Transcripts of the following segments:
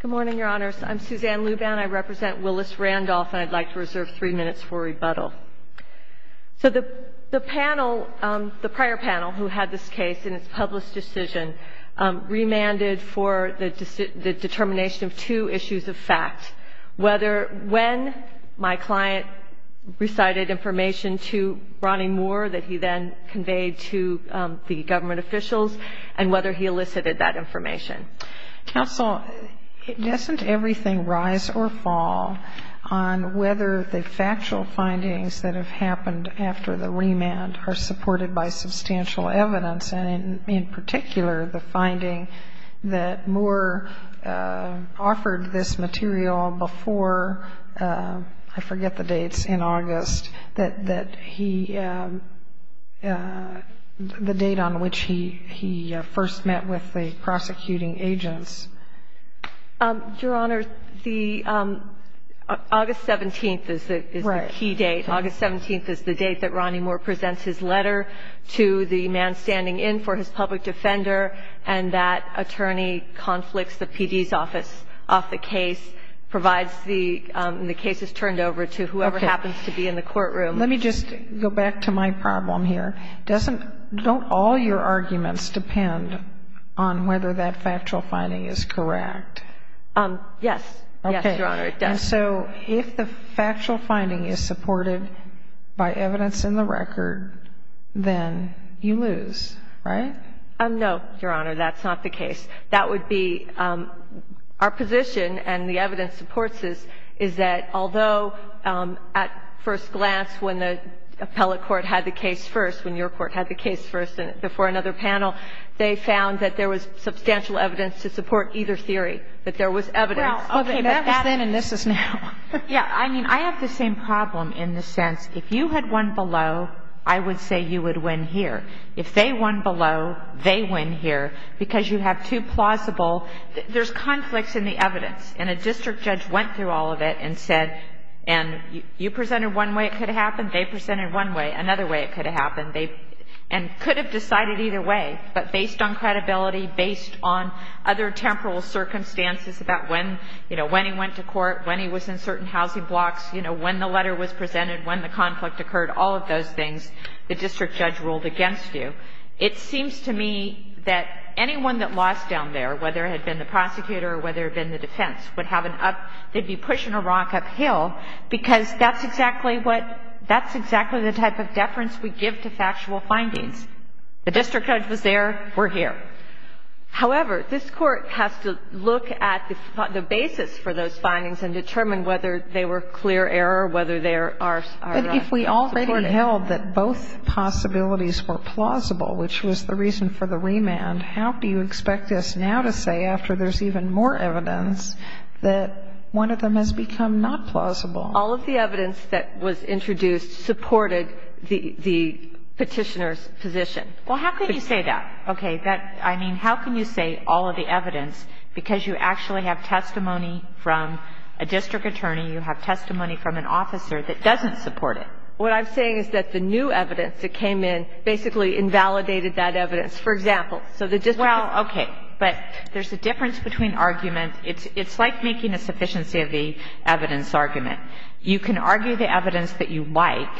Good morning, Your Honors. I'm Suzanne Luban. I represent Willis Randolph, and I'd like to reserve three minutes for rebuttal. So the panel, the prior panel who had this case in its published decision, remanded for the determination of two issues of fact, whether when my client recited information to Ronnie Moore that he then conveyed to the government officials, and whether he elicited that information. Counsel, doesn't everything rise or fall on whether the factual findings that have happened after the remand are supported by substantial evidence, and in particular the finding that Moore offered this material before, I forget the dates, in August, that he, the date on which he first met with the prosecuting agents? Your Honor, the August 17th is the key date. Right. August 17th is the date that Ronnie Moore presents his letter to the man standing in for his public defender, and that attorney conflicts the PD's office off the case, provides the cases turned over to whoever happens to be in the courtroom. Let me just go back to my problem here. Doesn't all your arguments depend on whether that factual finding is correct? Yes. Okay. Yes, Your Honor, it does. And so if the factual finding is supported by evidence in the record, then you lose, right? No, Your Honor. That's not the case. That would be our position, and the evidence supports this, is that although at first glance when the appellate court had the case first, when your court had the case first before another panel, they found that there was substantial evidence to support either theory, that there was evidence. Well, okay. That was then and this is now. Yeah. I mean, I have the same problem in the sense if you had won below, I would say you would win here. If they won below, they win here, because you have two plausible. There's conflicts in the evidence, and a district judge went through all of it and said, and you presented one way it could have happened, they presented one way, another way it could have happened, and could have decided either way. But based on credibility, based on other temporal circumstances about when, you know, when he went to court, when he was in certain housing blocks, you know, when the letter was presented, when the conflict occurred, all of those things, the district judge ruled against you. It seems to me that anyone that lost down there, whether it had been the prosecutor or whether it had been the defense, would have an up, they'd be pushing a rock uphill, because that's exactly what, that's exactly the type of deference we give to factual findings. The district judge was there, we're here. However, this Court has to look at the basis for those findings and determine whether they were clear error, whether they are supported. But if we already held that both possibilities were plausible, which was the reason for the remand, how do you expect us now to say, after there's even more evidence, that one of them has become not plausible? All of the evidence that was introduced supported the Petitioner's position. Well, how can you say that? Okay. That, I mean, how can you say all of the evidence, because you actually have testimony from a district attorney, you have testimony from an officer that doesn't support it. What I'm saying is that the new evidence that came in basically invalidated that evidence. For example, so the district attorney. Well, okay. But there's a difference between arguments. It's like making a sufficiency of the evidence argument. You can argue the evidence that you like,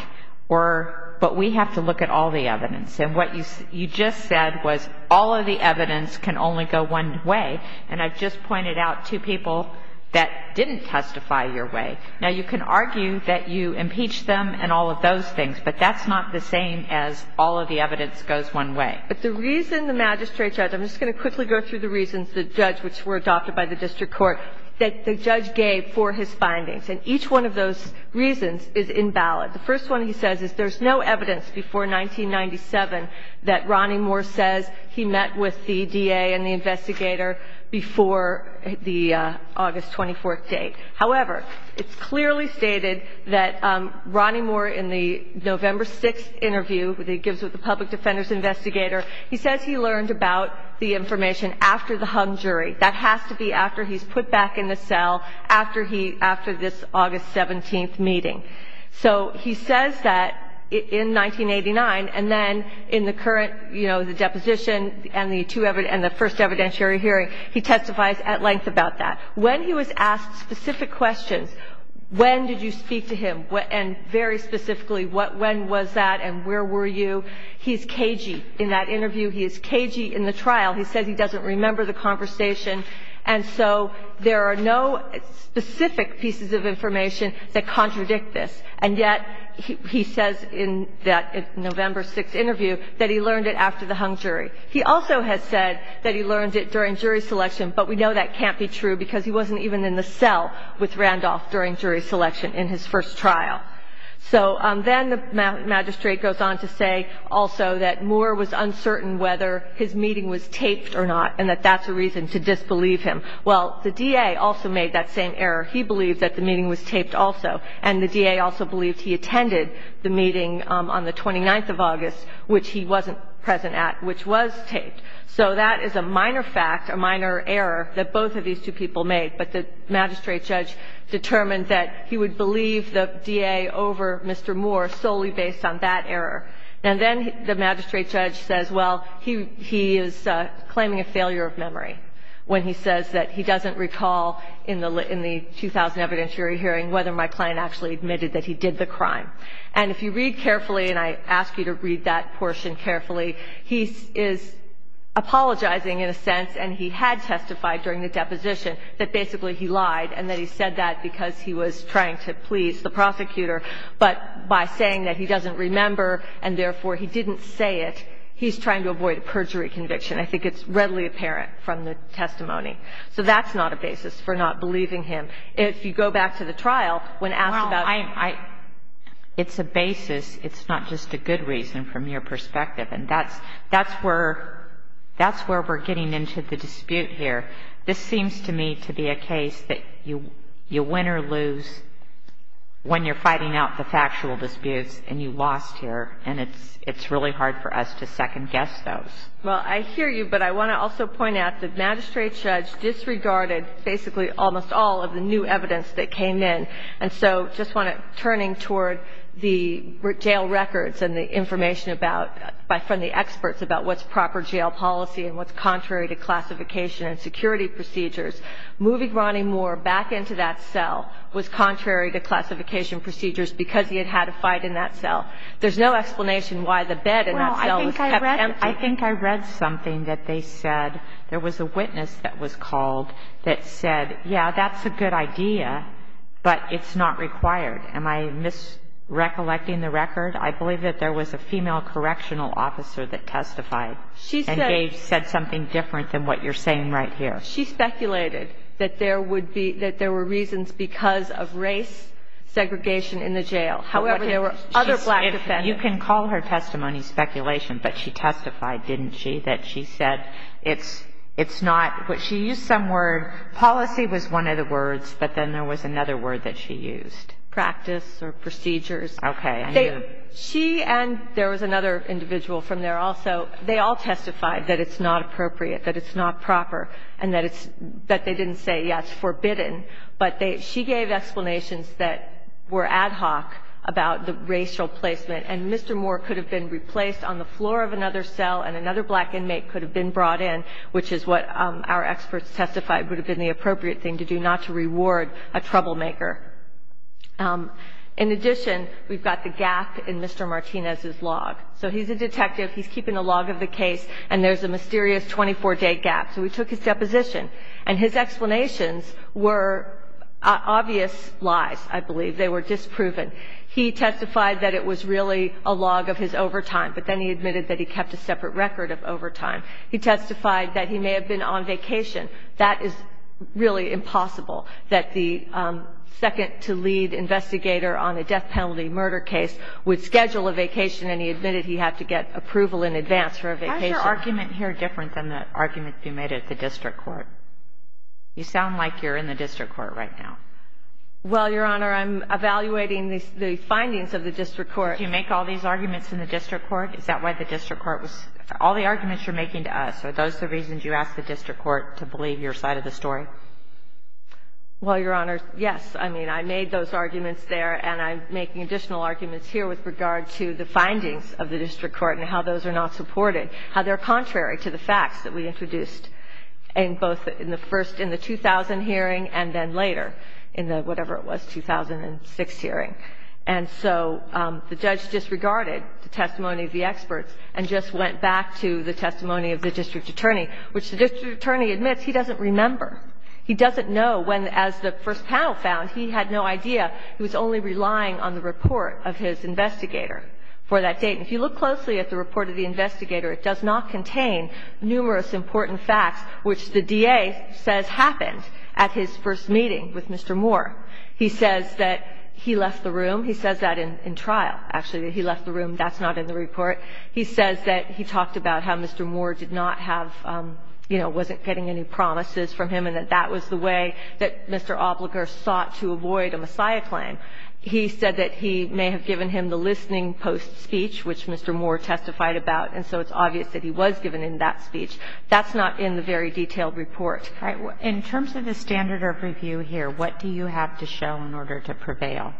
or, but we have to look at all the evidence. And what you just said was all of the evidence can only go one way. And I've just pointed out two people that didn't testify your way. Now, you can argue that you impeached them and all of those things, but that's not the same as all of the evidence goes one way. But the reason the magistrate judge – I'm just going to quickly go through the reasons the judge, which were adopted by the district court, that the judge gave for his findings. And each one of those reasons is invalid. The first one he says is there's no evidence before 1997 that Ronnie Moore says he met with the DA and the investigator before the August 24th date. However, it's clearly stated that Ronnie Moore in the November 6th interview that he gives with the public defender's investigator, he says he learned about the information after the hung jury. That has to be after he's put back in the cell after this August 17th meeting. So he says that in 1989, and then in the current, you know, the deposition and the first evidentiary hearing, he testifies at length about that. When he was asked specific questions, when did you speak to him? And very specifically, when was that and where were you? He's cagey in that interview. He is cagey in the trial. He says he doesn't remember the conversation. And so there are no specific pieces of information that contradict this. And yet he says in that November 6th interview that he learned it after the hung jury. He also has said that he learned it during jury selection, but we know that can't be true because he wasn't even in the cell with Randolph during jury selection in his first trial. So then the magistrate goes on to say also that Moore was uncertain whether his meeting was taped or not and that that's a reason to disbelieve him. Well, the DA also made that same error. He believed that the meeting was taped also. And the DA also believed he attended the meeting on the 29th of August, which he wasn't present at, which was taped. So that is a minor fact, a minor error that both of these two people made. But the magistrate judge determined that he would believe the DA over Mr. Moore solely based on that error. And then the magistrate judge says, well, he is claiming a failure of memory when he says that he doesn't recall in the 2000 evidentiary hearing whether my client actually admitted that he did the crime. And if you read carefully, and I ask you to read that portion carefully, he is apologizing in a sense, and he had testified during the deposition, that basically he lied and that he said that because he was trying to please the prosecutor. But by saying that he doesn't remember and, therefore, he didn't say it, he's trying to avoid a perjury conviction. I think it's readily apparent from the testimony. So that's not a basis for not believing him. If you go back to the trial when asked about it. It's a basis. It's not just a good reason from your perspective. And that's where we're getting into the dispute here. This seems to me to be a case that you win or lose when you're fighting out the factual disputes and you lost here. And it's really hard for us to second-guess those. Well, I hear you, but I want to also point out that the magistrate judge disregarded basically almost all of the new evidence that came in. And so I just want to, turning toward the jail records and the information about, from the experts about what's proper jail policy and what's contrary to classification and security procedures, moving Ronnie Moore back into that cell was contrary to classification procedures because he had had a fight in that cell. There's no explanation why the bed in that cell was kept empty. Well, I think I read something that they said. There was a witness that was called that said, yeah, that's a good idea, but it's not required. Am I misrecollecting the record? I believe that there was a female correctional officer that testified. And Gage said something different than what you're saying right here. She speculated that there would be – that there were reasons because of race segregation in the jail. However, there were other black defendants. You can call her testimony speculation, but she testified, didn't she, that she said it's not – she used some word. Policy was one of the words, but then there was another word that she used. Practice or procedures. Okay. She and – there was another individual from there also. They all testified that it's not appropriate, that it's not proper, and that it's – that they didn't say, yes, forbidden. But they – she gave explanations that were ad hoc about the racial placement. And Mr. Moore could have been replaced on the floor of another cell, and another black inmate could have been brought in, which is what our experts testified would have been the appropriate thing to do, not to reward a troublemaker. In addition, we've got the gap in Mr. Martinez's log. So he's a detective. He's keeping a log of the case, and there's a mysterious 24-day gap. So we took his deposition, and his explanations were obvious lies, I believe. They were disproven. He testified that it was really a log of his overtime, but then he admitted that he kept a separate record of overtime. He testified that he may have been on vacation. That is really impossible, that the second-to-lead investigator on a death penalty murder case would schedule a vacation, and he admitted he had to get approval in advance for a vacation. Why is your argument here different than the argument you made at the district court? You sound like you're in the district court right now. Well, Your Honor, I'm evaluating the findings of the district court. Did you make all these arguments in the district court? Is that why the district court was – all the arguments you're making to us, are those the reasons you asked the district court to believe your side of the story? Well, Your Honor, yes. I mean, I made those arguments there, and I'm making additional arguments here with regard to the findings of the district court and how those are not supported, how they're contrary to the facts that we introduced in both the first – in the 2000 hearing and then later in the whatever it was, 2006 hearing. And so the judge disregarded the testimony of the experts and just went back to the testimony of the district attorney, which the district attorney admits he doesn't remember. He doesn't know when, as the first panel found, he had no idea. He was only relying on the report of his investigator for that date. And if you look closely at the report of the investigator, it does not contain numerous important facts, which the DA says happened at his first meeting with Mr. Moore. He says that he left the room. He says that in trial, actually, that he left the room. That's not in the report. He says that he talked about how Mr. Moore did not have – you know, wasn't getting any promises from him and that that was the way that Mr. Obliger sought to avoid a Messiah claim. He said that he may have given him the listening post speech, which Mr. Moore testified about, and so it's obvious that he was given in that speech. That's not in the very detailed report. All right. In terms of the standard of review here, what do you have to show in order to prevail?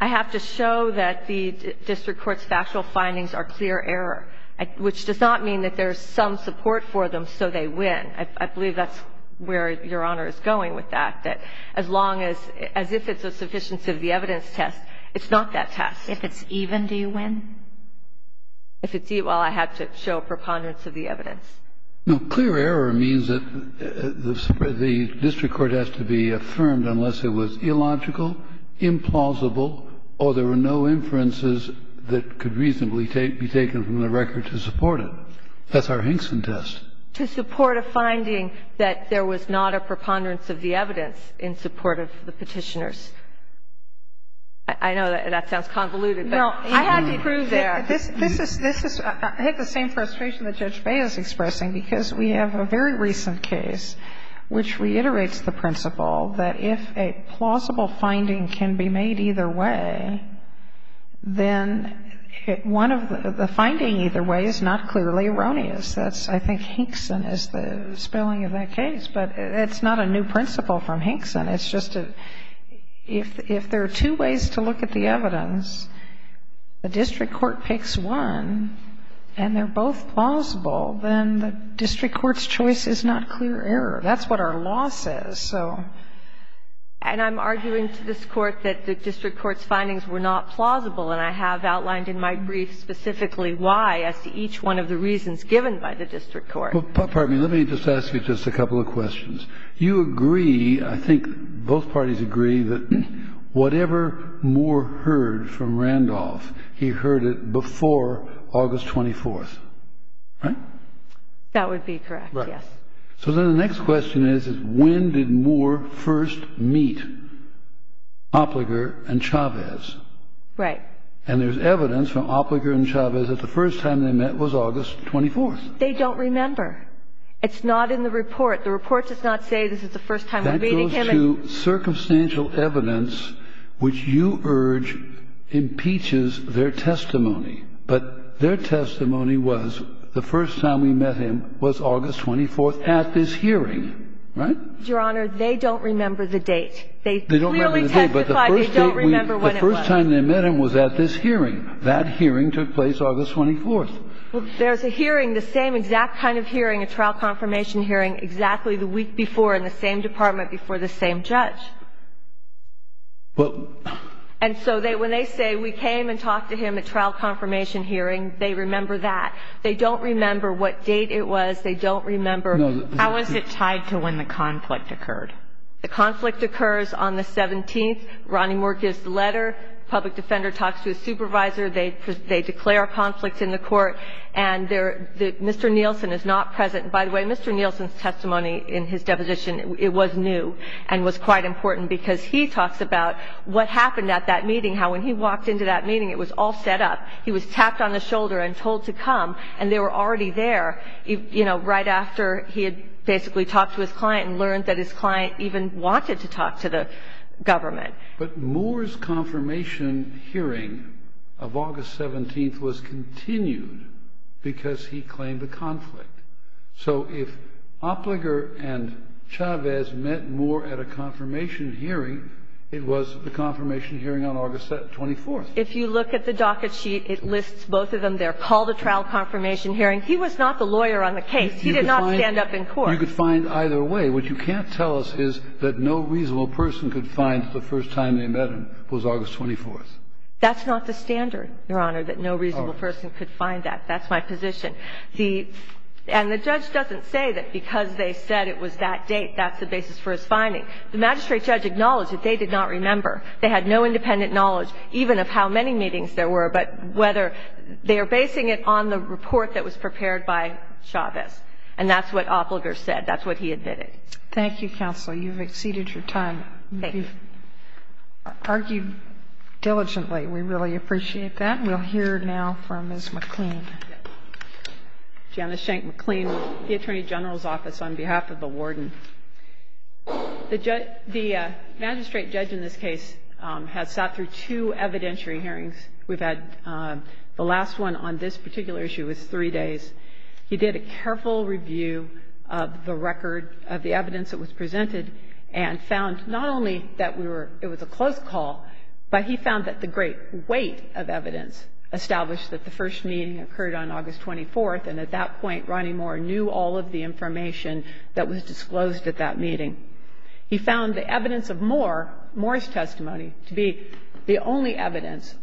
I have to show that the district court's factual findings are clear error, which does not mean that there's some support for them so they win. I believe that's where Your Honor is going with that, that as long as – as if it's a sufficiency of the evidence test, it's not that test. If it's even, do you win? If it's even, well, I have to show preponderance of the evidence. No. Clear error means that the district court has to be affirmed unless it was illogical, implausible, or there were no inferences that could reasonably be taken from the record to support it. That's our Hinkson test. To support a finding that there was not a preponderance of the evidence in support of the Petitioners. I know that sounds convoluted. No. I had to prove that. This is – this is – I had the same frustration that Judge Bey is expressing because we have a very recent case which reiterates the principle that if a plausible finding can be made either way, then one of the – the finding either way is not clearly erroneous. That's – I think Hinkson is the spelling of that case. But it's not a new principle from Hinkson. It's just a – if there are two ways to look at the evidence, the district court picks one, and they're both plausible, then the district court's choice is not clear error. That's what our law says, so. And I'm arguing to this Court that the district court's findings were not plausible, and I have outlined in my brief specifically why as to each one of the reasons given by the district court. Well, pardon me. Let me just ask you just a couple of questions. You agree, I think both parties agree, that whatever Moore heard from Randolph, he heard it before August 24th, right? That would be correct, yes. Right. So then the next question is, is when did Moore first meet Opliger and Chavez? Right. And there's evidence from Opliger and Chavez that the first time they met was August 24th. They don't remember. It's not in the report. The report does not say this is the first time they're meeting him. It goes to circumstantial evidence, which you urge impeaches their testimony. But their testimony was the first time we met him was August 24th at this hearing. Right? Your Honor, they don't remember the date. They clearly testified they don't remember when it was. The first time they met him was at this hearing. That hearing took place August 24th. Well, there's a hearing, the same exact kind of hearing, a trial confirmation hearing exactly the week before in the same department before the same judge. And so when they say we came and talked to him at trial confirmation hearing, they remember that. They don't remember what date it was. They don't remember. How is it tied to when the conflict occurred? The conflict occurs on the 17th. Ronnie Moore gives the letter. The public defender talks to his supervisor. They declare a conflict in the court. And Mr. Nielsen is not present. By the way, Mr. Nielsen's testimony in his deposition, it was new and was quite important because he talks about what happened at that meeting, how when he walked into that meeting, it was all set up. He was tapped on the shoulder and told to come. And they were already there, you know, right after he had basically talked to his client and learned that his client even wanted to talk to the government. But Moore's confirmation hearing of August 17th was continued because he claimed the conflict. So if Opliger and Chavez met Moore at a confirmation hearing, it was the confirmation hearing on August 24th. If you look at the docket sheet, it lists both of them there. Paul, the trial confirmation hearing, he was not the lawyer on the case. He did not stand up in court. You could find either way. What you can't tell us is that no reasonable person could find the first time they met him was August 24th. That's not the standard, Your Honor, that no reasonable person could find that. That's my position. And the judge doesn't say that because they said it was that date, that's the basis for his finding. The magistrate judge acknowledged that they did not remember. They had no independent knowledge even of how many meetings there were, but whether they are basing it on the report that was prepared by Chavez. And that's what Opliger said. That's what he admitted. Thank you, counsel. You've exceeded your time. Thank you. You've argued diligently. We really appreciate that. We'll hear now from Ms. McLean. Janice Shank-McLean, the Attorney General's Office, on behalf of the Warden. The magistrate judge in this case has sat through two evidentiary hearings. We've had the last one on this particular issue. It was three days. He did a careful review of the record of the evidence that was presented and found not only that we were – it was a close call, but he found that the great weight of evidence established that the first meeting occurred on August 24th, and at that point, Ronnie Moore knew all of the information that was disclosed at that meeting. He found the evidence of Moore, Moore's testimony, to be the only evidence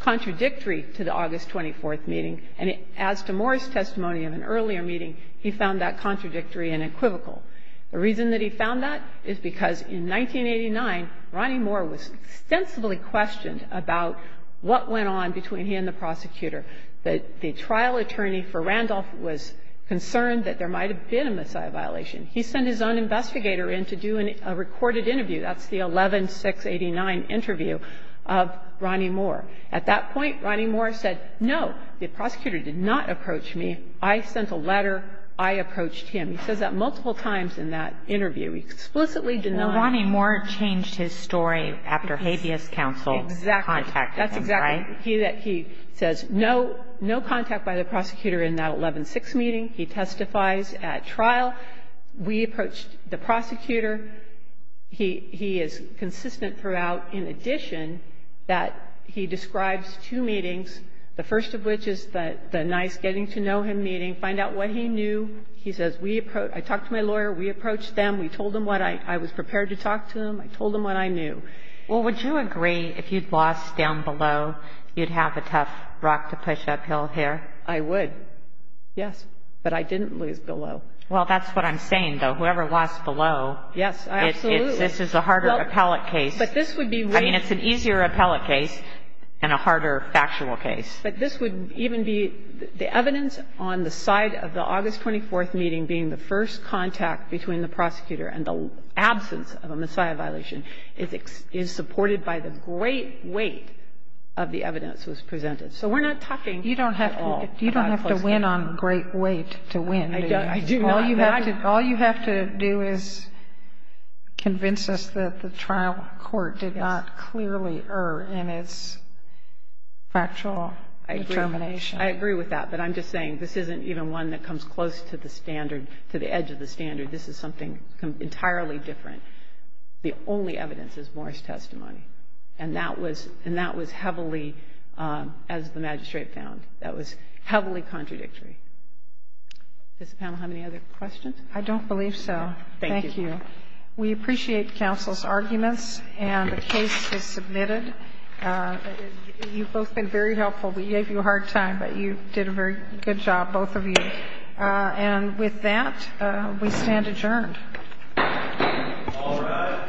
contradictory to the August 24th meeting. And as to Moore's testimony of an earlier meeting, he found that contradictory and equivocal. The reason that he found that is because in 1989, Ronnie Moore was extensively questioned about what went on between he and the prosecutor. The trial attorney for Randolph was concerned that there might have been a missile violation. He sent his own investigator in to do a recorded interview. That's the 11-689 interview of Ronnie Moore. At that point, Ronnie Moore said, no, the prosecutor did not approach me. I sent a letter. I approached him. He says that multiple times in that interview. He explicitly denied. So Ronnie Moore changed his story after habeas counsel contacted him, right? Exactly. That's exactly. He says, no, no contact by the prosecutor in that 11-6 meeting. He testifies at trial. We approached the prosecutor. He is consistent throughout, in addition, that he describes two meetings, the first of which is the nice getting-to-know-him meeting, find out what he knew. He says, I talked to my lawyer. We approached them. We told them what I was prepared to talk to them. I told them what I knew. Well, would you agree if you'd lost down below, you'd have a tough rock to push uphill here? I would, yes. But I didn't lose below. Well, that's what I'm saying, though. Whoever lost below. Yes, absolutely. This is a harder appellate case. But this would be way easier. I mean, it's an easier appellate case and a harder factual case. But this would even be the evidence on the side of the August 24th meeting being the first contact between the prosecutor and the absence of a Messiah violation is supported by the great weight of the evidence that was presented. So we're not talking at all about close contact. You don't have to win on great weight to win. I do not. All you have to do is convince us that the trial court did not clearly err in its factual determination. I agree. I agree with that. But I'm just saying this isn't even one that comes close to the standard, to the edge of the standard. This is something entirely different. The only evidence is Moore's testimony. And that was heavily, as the magistrate found, that was heavily contradictory. Does the panel have any other questions? I don't believe so. Thank you. Thank you. We appreciate counsel's arguments, and the case is submitted. You've both been very helpful. We gave you a hard time, but you did a very good job, both of you. And with that, we stand adjourned. All rise.